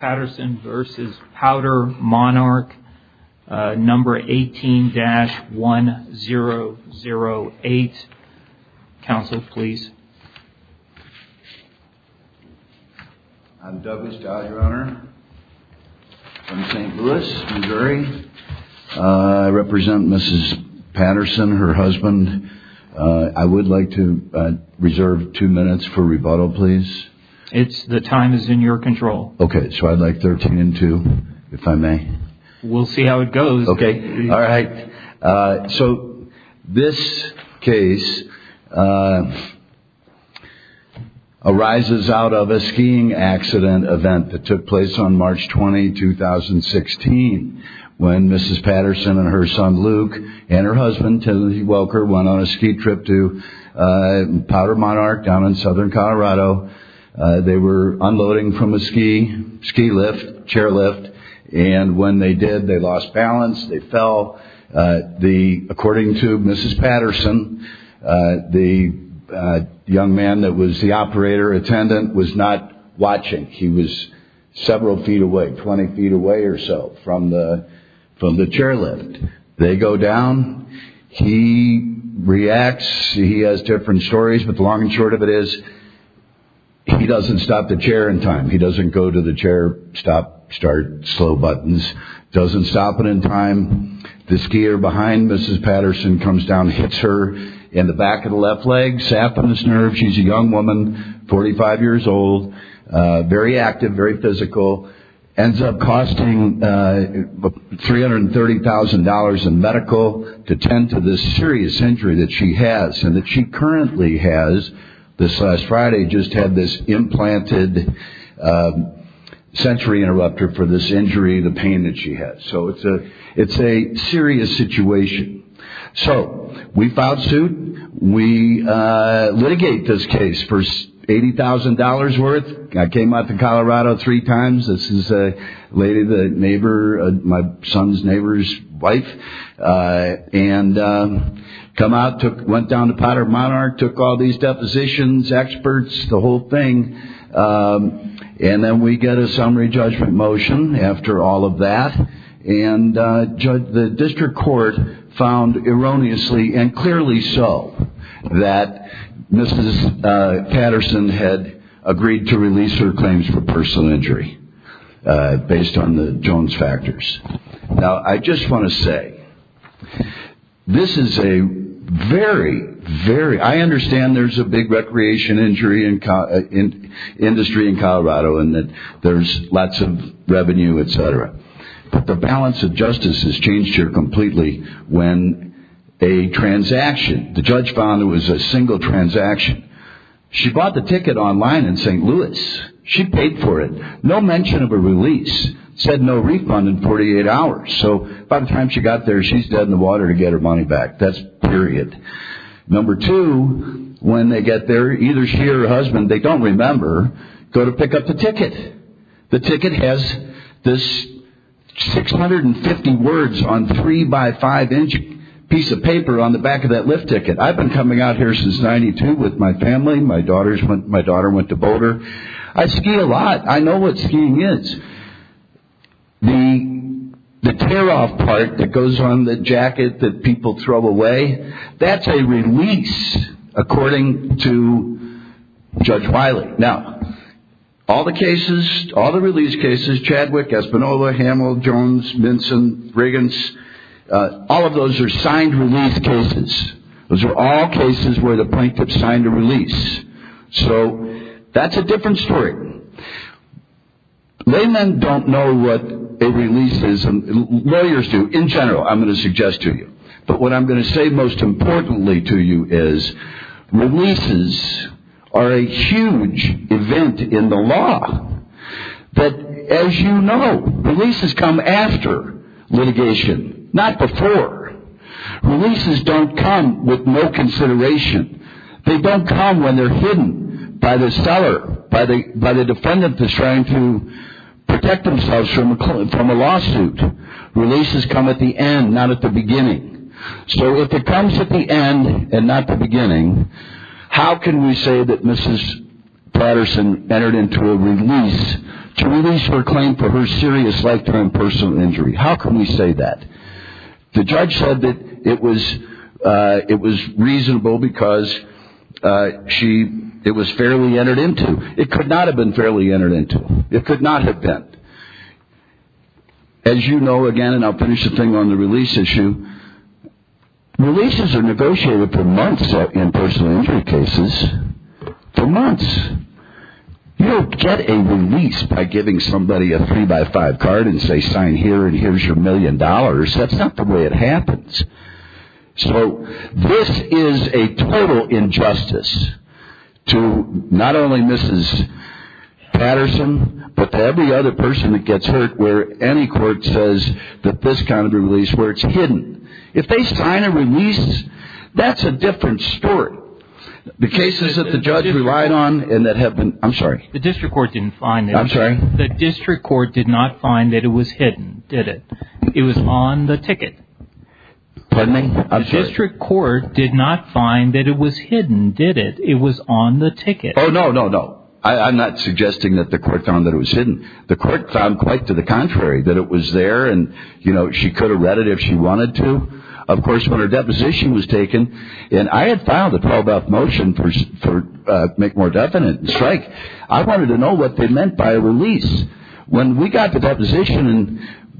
18-1008. Council, please. I'm Douglas Dodd, your honor, from St. Louis, Missouri. I represent Mrs. Patterson, her husband. I would like to reserve two minutes for rebuttal, please. It's the time is in your control. Okay, so I'd like 13 and 2, if I may. We'll see how it goes. Okay. All right. So this case arises out of a skiing accident event that took place on March 20, 2016, when Mrs. Patterson and her son, Luke, and her husband, Timothy Welker, went on a ski trip to PowderMonarch down in southern Colorado. They were unloading from a ski lift, chairlift, and when they did, they lost balance. They fell. According to Mrs. Patterson, the young man that was the operator attendant was not watching. He was several feet away, 20 feet away or so from the chairlift. They go down. He reacts. He has different stories, but the long and short of it is he doesn't stop the chair in time. He doesn't go to the chair, stop, start, slow buttons. Doesn't stop it in time. The skier behind Mrs. Patterson comes down, hits her in the back of the left leg, sapped on this nerve. She's a young woman, 45 years old, very active, very physical. Ends up costing $330,000 in medical to tend to this serious injury that she has and that she currently has. Mrs. Patterson, this last Friday, just had this implanted sensory interrupter for this injury, the pain that she has. So it's a serious situation. So we filed suit. We litigate this case for $80,000 worth. I came up to Colorado three times. This is a lady, the neighbor, my son's neighbor's wife, and come out, went down to Potter Monarch, took all these depositions, experts, the whole thing. And then we get a summary judgment motion after all of that. And the district court found erroneously and clearly so that Mrs. Patterson had agreed to release her claims for personal injury based on the Jones factors. Now, I just want to say, this is a very, very, I understand there's a big recreation industry in Colorado and that there's lots of revenue, etc. But the balance of justice has changed here completely when a transaction, the judge found it was a single transaction. She bought the ticket online in St. Louis. She paid for it. No mention of a release. Said no refund in 48 hours. So by the time she got there, she's dead in the water to get her money back. That's period. Number two, when they get there, either she or her husband, they don't remember, go to pick up the ticket. The ticket has this 650 words on three by five inch piece of paper on the back of that lift ticket. I've been coming out here since 92 with my family. My daughter went to Boulder. I ski a lot. I know what skiing is. The tear off part that goes on the jacket that people throw away, that's a release, according to Judge Miley. Now, all the cases, all the release cases, Chadwick, Espinola, Hamill, Jones, Minson, Riggins, all of those are signed release cases. Those are all cases where the plaintiff signed a release. So that's a different story. Laymen don't know what a release is. Lawyers do, in general, I'm going to suggest to you. But what I'm going to say most importantly to you is releases are a huge event in the law. But as you know, releases come after litigation, not before. Releases don't come with no consideration. They don't come when they're hidden by the seller, by the defendant that's trying to protect themselves from a lawsuit. Releases come at the end, not at the beginning. So if it comes at the end and not the beginning, how can we say that Mrs. Patterson entered into a release to release her claim for her serious lifetime personal injury? How can we say that? The judge said that it was reasonable because it was fairly entered into. It could not have been fairly entered into. It could not have been. As you know, again, and I'll finish the thing on the release issue, releases are negotiated for months in personal injury cases, for months. You don't get a release by giving somebody a three by five card and say sign here and here's your million dollars. That's not the way it happens. So this is a total injustice to not only Mrs. Patterson, but to every other person that gets hurt where any court says that this kind of a release where it's hidden. If they sign a release, that's a different story. The cases that the judge relied on and that have been, I'm sorry. The district court did not find that it was hidden, did it? It was on the ticket. Pardon me? I'm sorry. The district court did not find that it was hidden, did it? It was on the ticket. Oh, no, no, no. I'm not suggesting that the court found that it was hidden. The court found quite to the contrary, that it was there and, you know, she could have read it if she wanted to. Of course, when her deposition was taken and I had filed a 12-up motion for make more definite and strike, I wanted to know what they meant by a release. When we got the deposition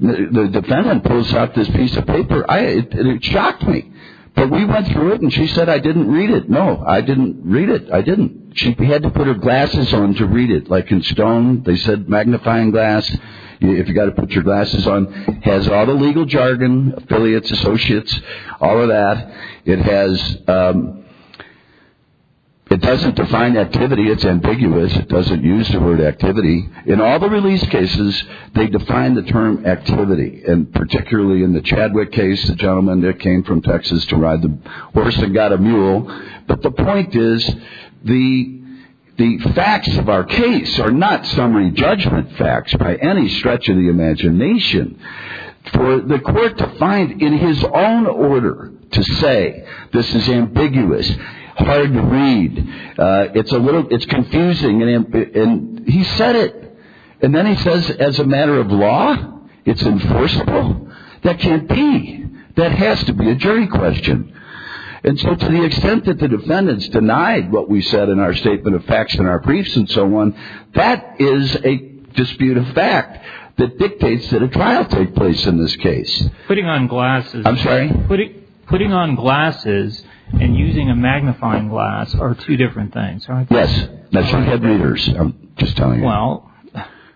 and the defendant pulls out this piece of paper, it shocked me. But we went through it and she said, I didn't read it. No, I didn't read it. I didn't. She had to put her glasses on to read it. Like in Stone, they said magnifying glass, if you've got to put your glasses on. It has all the legal jargon, affiliates, associates, all of that. It doesn't define activity. It's ambiguous. It doesn't use the word activity. In all the release cases, they define the term activity. And particularly in the Chadwick case, the gentleman came from Texas to ride the horse and got a mule. But the point is the facts of our case are not summary judgment facts by any stretch of the imagination. For the court to find in his own order to say this is ambiguous, hard to read, it's confusing, and he said it. And then he says as a matter of law, it's enforceable? That can't be. That has to be a jury question. And so to the extent that the defendants denied what we said in our statement of facts in our briefs and so on, that is a dispute of fact that dictates that a trial take place in this case. Putting on glasses and using a magnifying glass are two different things. Yes. That's for head readers, I'm just telling you. Well,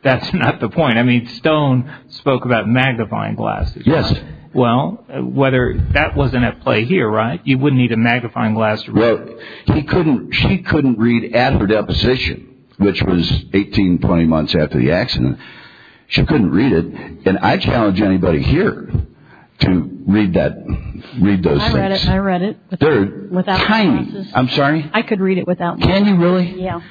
that's not the point. I mean, Stone spoke about magnifying glasses. Yes. Well, whether that wasn't at play here, right? You wouldn't need a magnifying glass. Well, he couldn't. She couldn't read at her deposition, which was 18, 20 months after the accident. She couldn't read it. And I challenge anybody here to read that. Read those. I read it. I read it. I'm sorry. I could read it without you. Really? Yeah.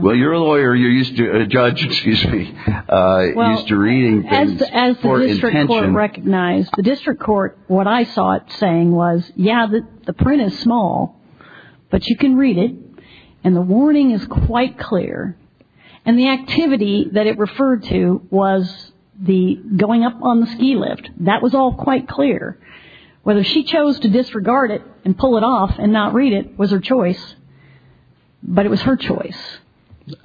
Well, you're a lawyer. You're used to a judge, excuse me, used to reading things for intention. As the district court recognized, the district court, what I saw it saying was, yeah, the print is small, but you can read it. And the warning is quite clear. And the activity that it referred to was the going up on the ski lift. That was all quite clear. Whether she chose to disregard it and pull it off and not read it was her choice. But it was her choice.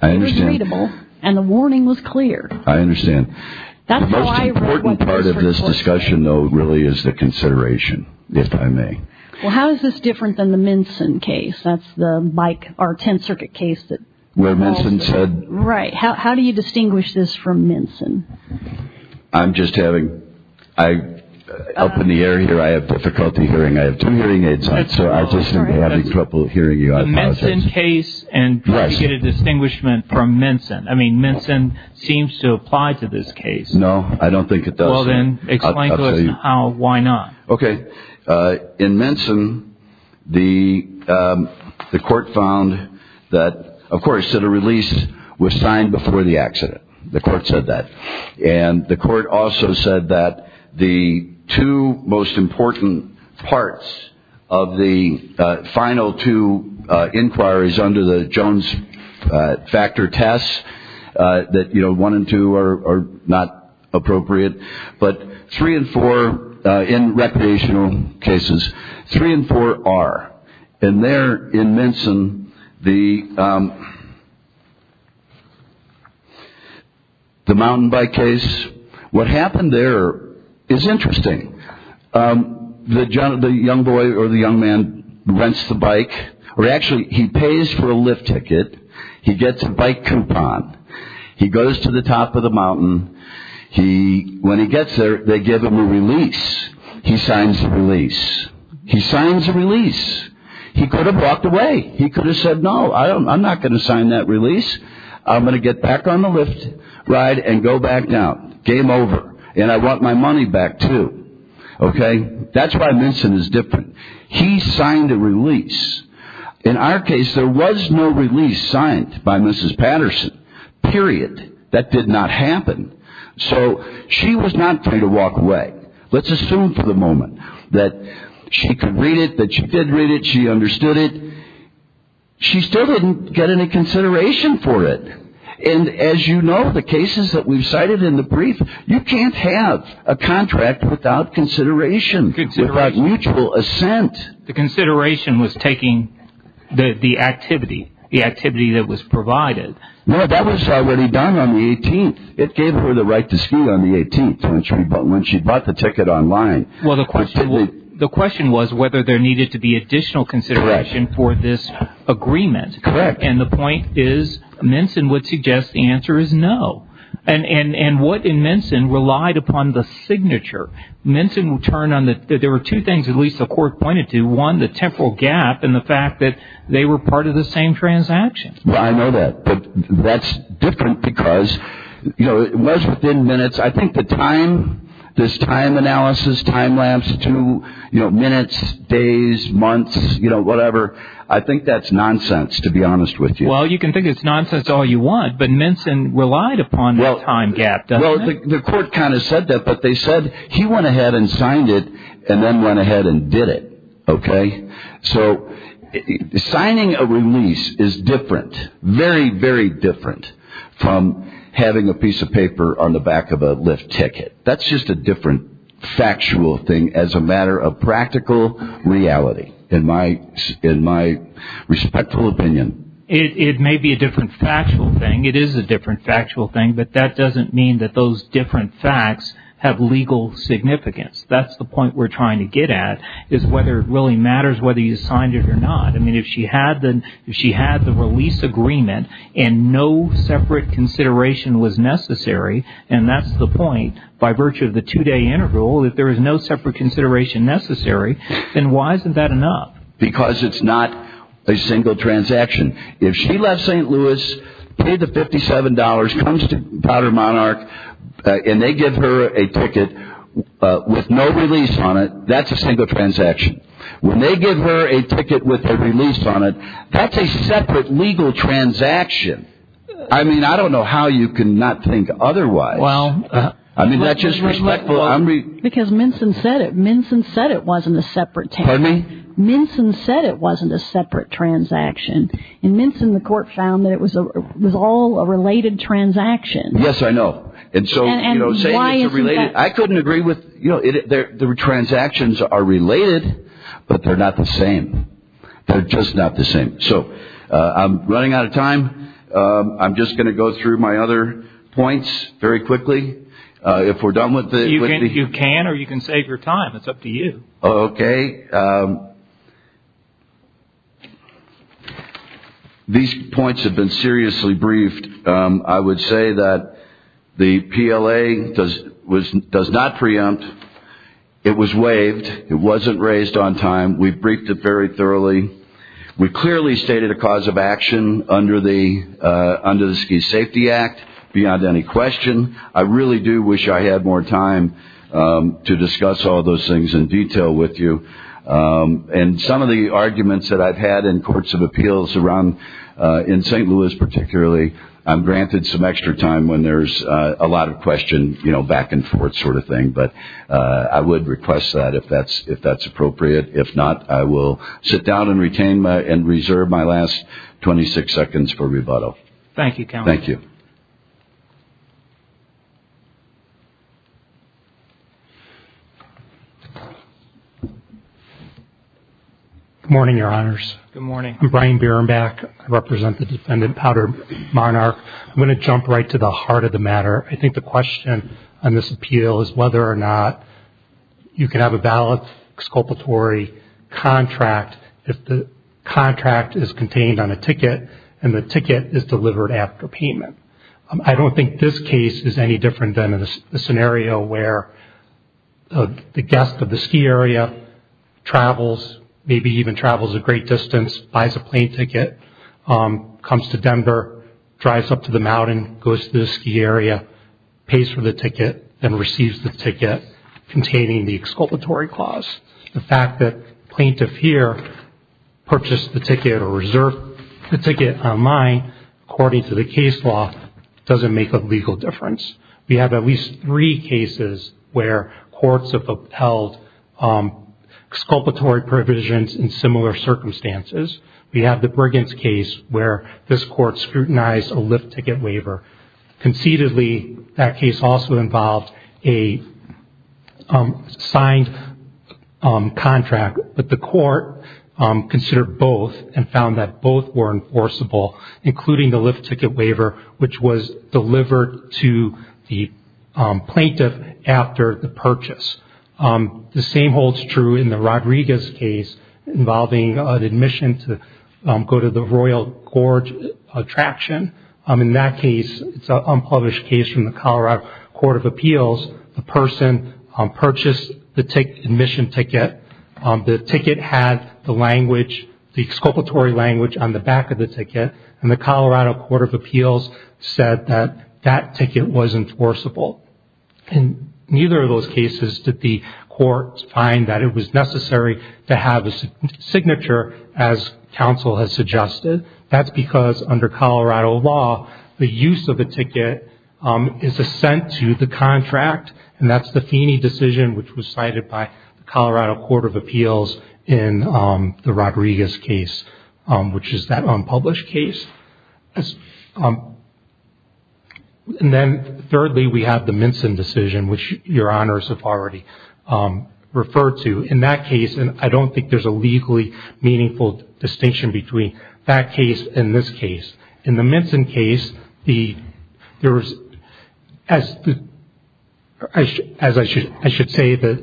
It was readable and the warning was clear. I understand. That's the most important part of this discussion, though, really, is the consideration. If I may. Well, how is this different than the Minson case? That's the bike or 10th Circuit case that Minson said. Right. How do you distinguish this from Minson? I'm just having I up in the air here. I have difficulty hearing. I have two hearing aids. So I just have a couple of hearing you in case and get a distinguishment from Minson. I mean, Minson seems to apply to this case. No, I don't think it does. Well, then explain how. Why not? OK. In Minson, the the court found that, of course, that a release was signed before the accident. The court said that. And the court also said that the two most important parts of the final two inquiries under the Jones factor tests that, you know, one and two are not appropriate, but three and four in recreational cases, three and four are. And there in Minson, the. The mountain bike case, what happened there is interesting. The young boy or the young man rents the bike or actually he pays for a lift ticket. He gets a bike coupon. He goes to the top of the mountain. He when he gets there, they give him a release. He signs the release. He signs a release. He could have walked away. He could have said, no, I don't. I'm not going to sign that release. I'm going to get back on the lift ride and go back down. Game over. And I want my money back, too. OK. That's why Minson is different. He signed a release. In our case, there was no release signed by Mrs. Patterson, period. That did not happen. So she was not free to walk away. Let's assume for the moment that she could read it, that she did read it. She understood it. She still didn't get any consideration for it. And as you know, the cases that we've cited in the brief, you can't have a contract without consideration. It's about mutual assent. The consideration was taking the activity, the activity that was provided. No, that was already done on the 18th. It gave her the right to ski on the 18th. But when she bought the ticket online, well, the question was whether there needed to be additional consideration for this agreement. And the point is, Minson would suggest the answer is no. And what in Minson relied upon the signature. Minson will turn on that. There were two things at least the court pointed to one, the temporal gap and the fact that they were part of the same transaction. Well, I know that that's different because, you know, it was within minutes. I think the time, this time analysis, time lapse to minutes, days, months, you know, whatever. I think that's nonsense, to be honest with you. Well, you can think it's nonsense all you want, but Minson relied upon the time gap. Well, the court kind of said that, but they said he went ahead and signed it and then went ahead and did it. OK, so signing a release is different, very, very different from having a piece of paper on the back of a lift ticket. That's just a different factual thing as a matter of practical reality. In my respectful opinion, it may be a different factual thing. It is a different factual thing, but that doesn't mean that those different facts have legal significance. That's the point we're trying to get at is whether it really matters whether you signed it or not. I mean, if she had the if she had the release agreement and no separate consideration was necessary, and that's the point by virtue of the two day interval, that there is no separate consideration necessary. And why isn't that enough? Because it's not a single transaction. If she left St. Louis, paid the fifty seven dollars, comes to Powder Monarch and they give her a ticket with no release on it, that's a single transaction. When they give her a ticket with a release on it, that's a separate legal transaction. I mean, I don't know how you can not think otherwise. Well, I mean, that's just because Minson said it. Minson said it wasn't a separate time. I mean, Minson said it wasn't a separate transaction. And Minson, the court found that it was a was all a related transaction. Yes, I know. And so, you know, say you're related. I couldn't agree with you. There were transactions are related, but they're not the same. They're just not the same. So I'm running out of time. I'm just going to go through my other points very quickly. If we're done with the you can or you can save your time. It's up to you. OK. These points have been seriously briefed. I would say that the PLA does was does not preempt. It was waived. It wasn't raised on time. We've briefed it very thoroughly. We clearly stated a cause of action under the under the Ski Safety Act beyond any question. I really do wish I had more time to discuss all those things in detail with you. And some of the arguments that I've had in courts of appeals around in St. Louis, particularly, I'm granted some extra time when there's a lot of question, you know, back and forth sort of thing. But I would request that if that's if that's appropriate. If not, I will sit down and retain my and reserve my last 26 seconds for rebuttal. Thank you. Thank you. Good morning, Your Honors. Good morning. I'm Brian Berenbeck. I represent the defendant, Powder Monarch. I'm going to jump right to the heart of the matter. I think the question on this appeal is whether or not you can have a valid exculpatory contract if the contract is contained on a ticket and the ticket is delivered after payment. I don't think this case is any different than a scenario where the guest of the ski area travels, maybe even travels a great distance, buys a plane ticket, comes to Denver, drives up to the mountain, goes to the ski area, pays for the ticket and receives the ticket containing the exculpatory clause. The fact that plaintiff here purchased the ticket or reserved the ticket on mine, according to the case law, doesn't make a legal difference. We have at least three cases where courts have upheld exculpatory provisions in similar circumstances. We have the Briggins case where this court scrutinized a Lyft ticket waiver. Conceitedly, that case also involved a signed contract, but the court considered both and found that both were enforceable, including the Lyft ticket waiver, which was delivered to the plaintiff after the purchase. The same holds true in the Rodriguez case involving an admission to go to the Royal Gorge attraction. In that case, it's an unpublished case from the Colorado Court of Appeals. The person purchased the admission ticket. The ticket had the language, the exculpatory language on the back of the ticket, and the Colorado Court of Appeals said that that ticket was enforceable. In neither of those cases did the court find that it was necessary to have a signature, as counsel has suggested. That's because under Colorado law, the use of a ticket is assent to the contract, and that's the Feeney decision which was cited by the Colorado Court of Appeals in the Rodriguez case, which is that unpublished case. Thirdly, we have the Minson decision, which Your Honors have already referred to. In that case, I don't think there's a legally meaningful distinction between that case and this case. In the Minson case, as I should say,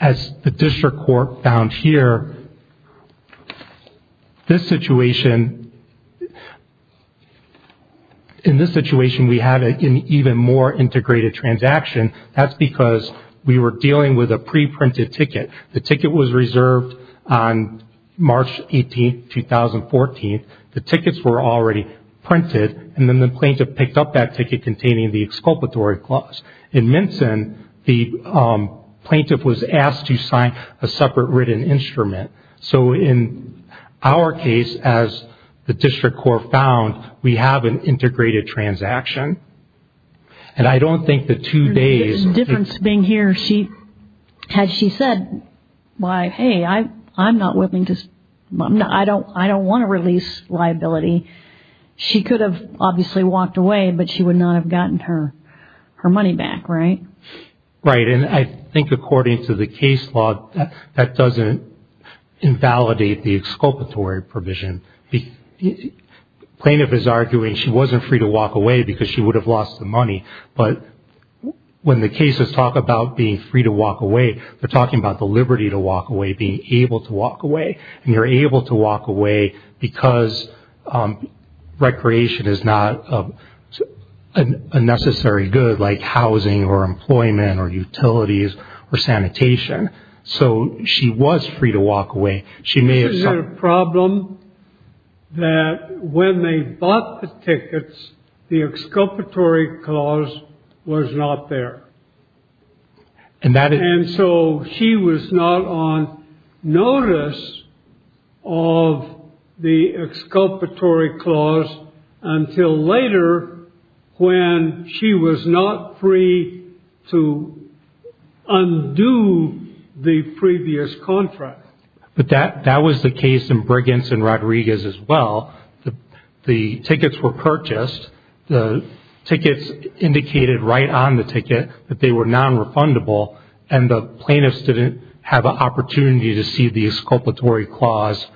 as the district court found here, in this situation, we had an even more integrated transaction. That's because we were dealing with a pre-printed ticket. The ticket was reserved on March 18, 2014. The tickets were already printed, and then the plaintiff picked up that ticket containing the exculpatory clause. In Minson, the plaintiff was asked to sign a separate written instrument. So in our case, as the district court found, we have an integrated transaction, and I don't think the two days... The difference being here, had she said, hey, I'm not willing to, I don't want to release liability, she could have obviously walked away, but she would not have gotten her money back, right? Right, and I think according to the case law, that doesn't invalidate the exculpatory provision. The plaintiff is arguing she wasn't free to walk away because she would have lost the money, but when the cases talk about being free to walk away, they're talking about the liberty to walk away, being able to walk away, and you're able to walk away because recreation is not a necessary good, like housing or employment or utilities or sanitation. So she was free to walk away. The problem that when they bought the tickets, the exculpatory clause was not there. And so she was not on notice of the exculpatory clause until later when she was not free to undo the previous contract. But that was the case in Briggins and Rodriguez as well. The tickets were purchased. The tickets indicated right on the ticket that they were nonrefundable, and the plaintiffs didn't have an opportunity to see the exculpatory clause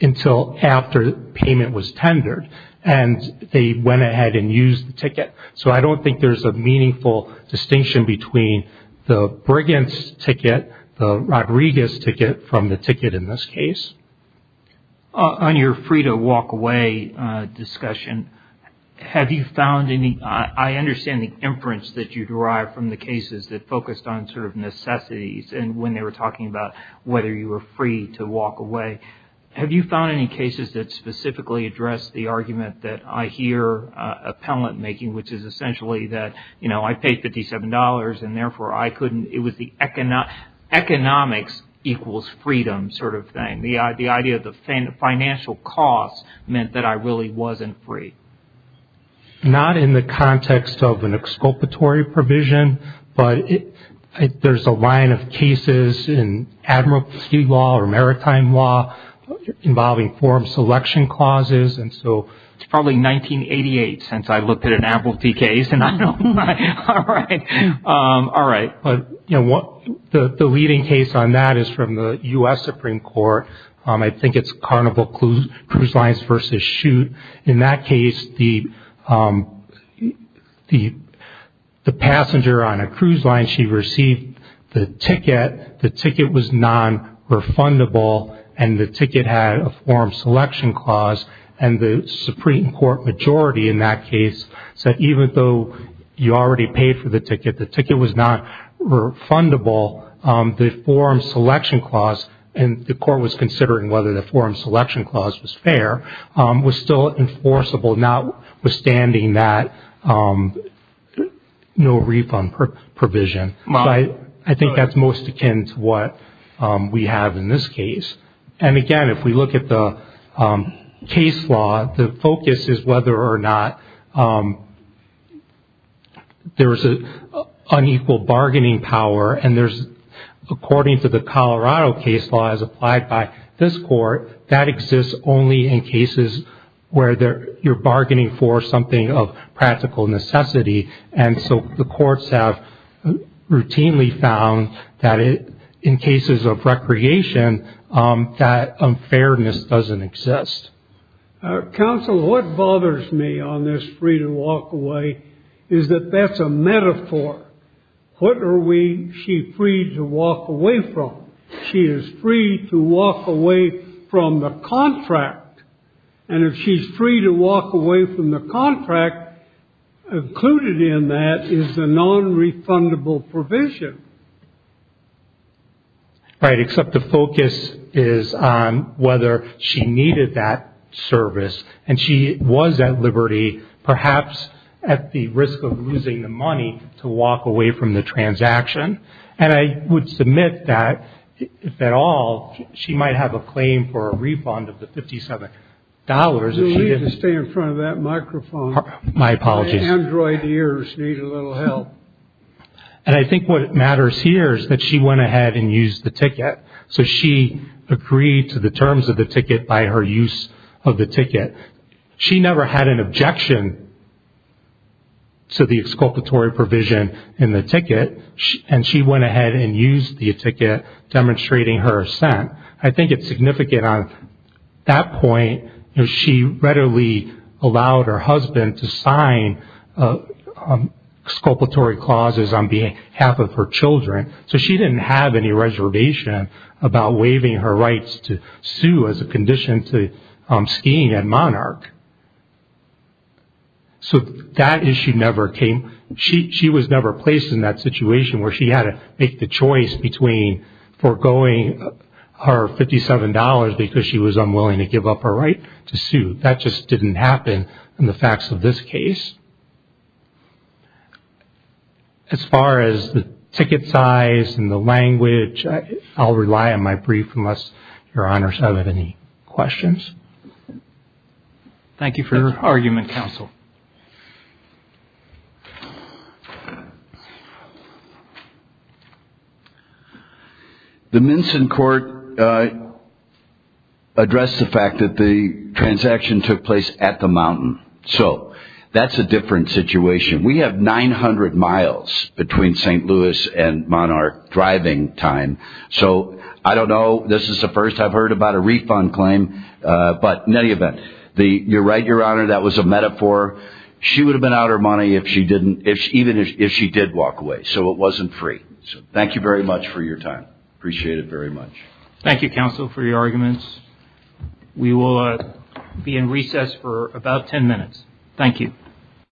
until after payment was tendered. And they went ahead and used the ticket. So I don't think there's a meaningful distinction between the Briggins ticket, the Rodriguez ticket, from the ticket in this case. On your free to walk away discussion, have you found any – I understand the inference that you derived from the cases that focused on sort of necessities and when they were talking about whether you were free to walk away. Have you found any cases that specifically address the argument that I hear appellant making, which is essentially that, you know, I paid $57 and therefore I couldn't – it was the economics equals freedom sort of thing. The idea of the financial costs meant that I really wasn't free. Not in the context of an exculpatory provision, but there's a line of cases in admiralty law or maritime law involving forum selection clauses, and so it's probably 1988 since I looked at an admiralty case, and I don't – all right. But, you know, the leading case on that is from the U.S. Supreme Court. I think it's Carnival Cruise Lines v. Chute. In that case, the passenger on a cruise line, she received the ticket. The ticket was nonrefundable, and the ticket had a forum selection clause, and the Supreme Court majority in that case said even though you already paid for the ticket, the ticket was not refundable, the forum selection clause – and the court was considering whether the forum selection clause was fair – was still enforceable notwithstanding that no refund provision. So I think that's most akin to what we have in this case. And again, if we look at the case law, the focus is whether or not there's an unequal bargaining power, and there's – according to the Colorado case law as applied by this court, that exists only in cases where you're bargaining for something of practical necessity, and so the courts have routinely found that in cases of recreation, that unfairness doesn't exist. Counsel, what bothers me on this free-to-walk-away is that that's a metaphor. What are we she free to walk away from? She is free to walk away from the contract, and if she's free to walk away from the contract, included in that is a nonrefundable provision. Right, except the focus is on whether she needed that service, and she was at liberty, perhaps at the risk of losing the money, to walk away from the transaction. And I would submit that, if at all, she might have a claim for a refund of the $57 if she didn't. You need to stay in front of that microphone. My apologies. My android ears need a little help. And I think what matters here is that she went ahead and used the ticket, so she agreed to the terms of the ticket by her use of the ticket. She never had an objection to the exculpatory provision in the ticket, and she went ahead and used the ticket, demonstrating her assent. I think it's significant on that point. She readily allowed her husband to sign exculpatory clauses on behalf of her children, so she didn't have any reservation about waiving her rights to sue as a condition to skiing at Monarch. So that issue never came. She was never placed in that situation where she had to make the choice between forgoing her $57 because she was unwilling to give up her right to sue. That just didn't happen in the facts of this case. As far as the ticket size and the language, I'll rely on my brief unless Your Honors have any questions. Thank you for your argument, Counsel. The Minson court addressed the fact that the transaction took place at the mountain. So that's a different situation. We have 900 miles between St. Louis and Monarch driving time. So I don't know. This is the first I've heard about a refund claim. But in any event, you're right, Your Honor, that was a metaphor. She would have been out her money even if she did walk away, so it wasn't free. So thank you very much for your time. Appreciate it very much. Thank you, Counsel, for your arguments. We will be in recess for about 10 minutes. Thank you.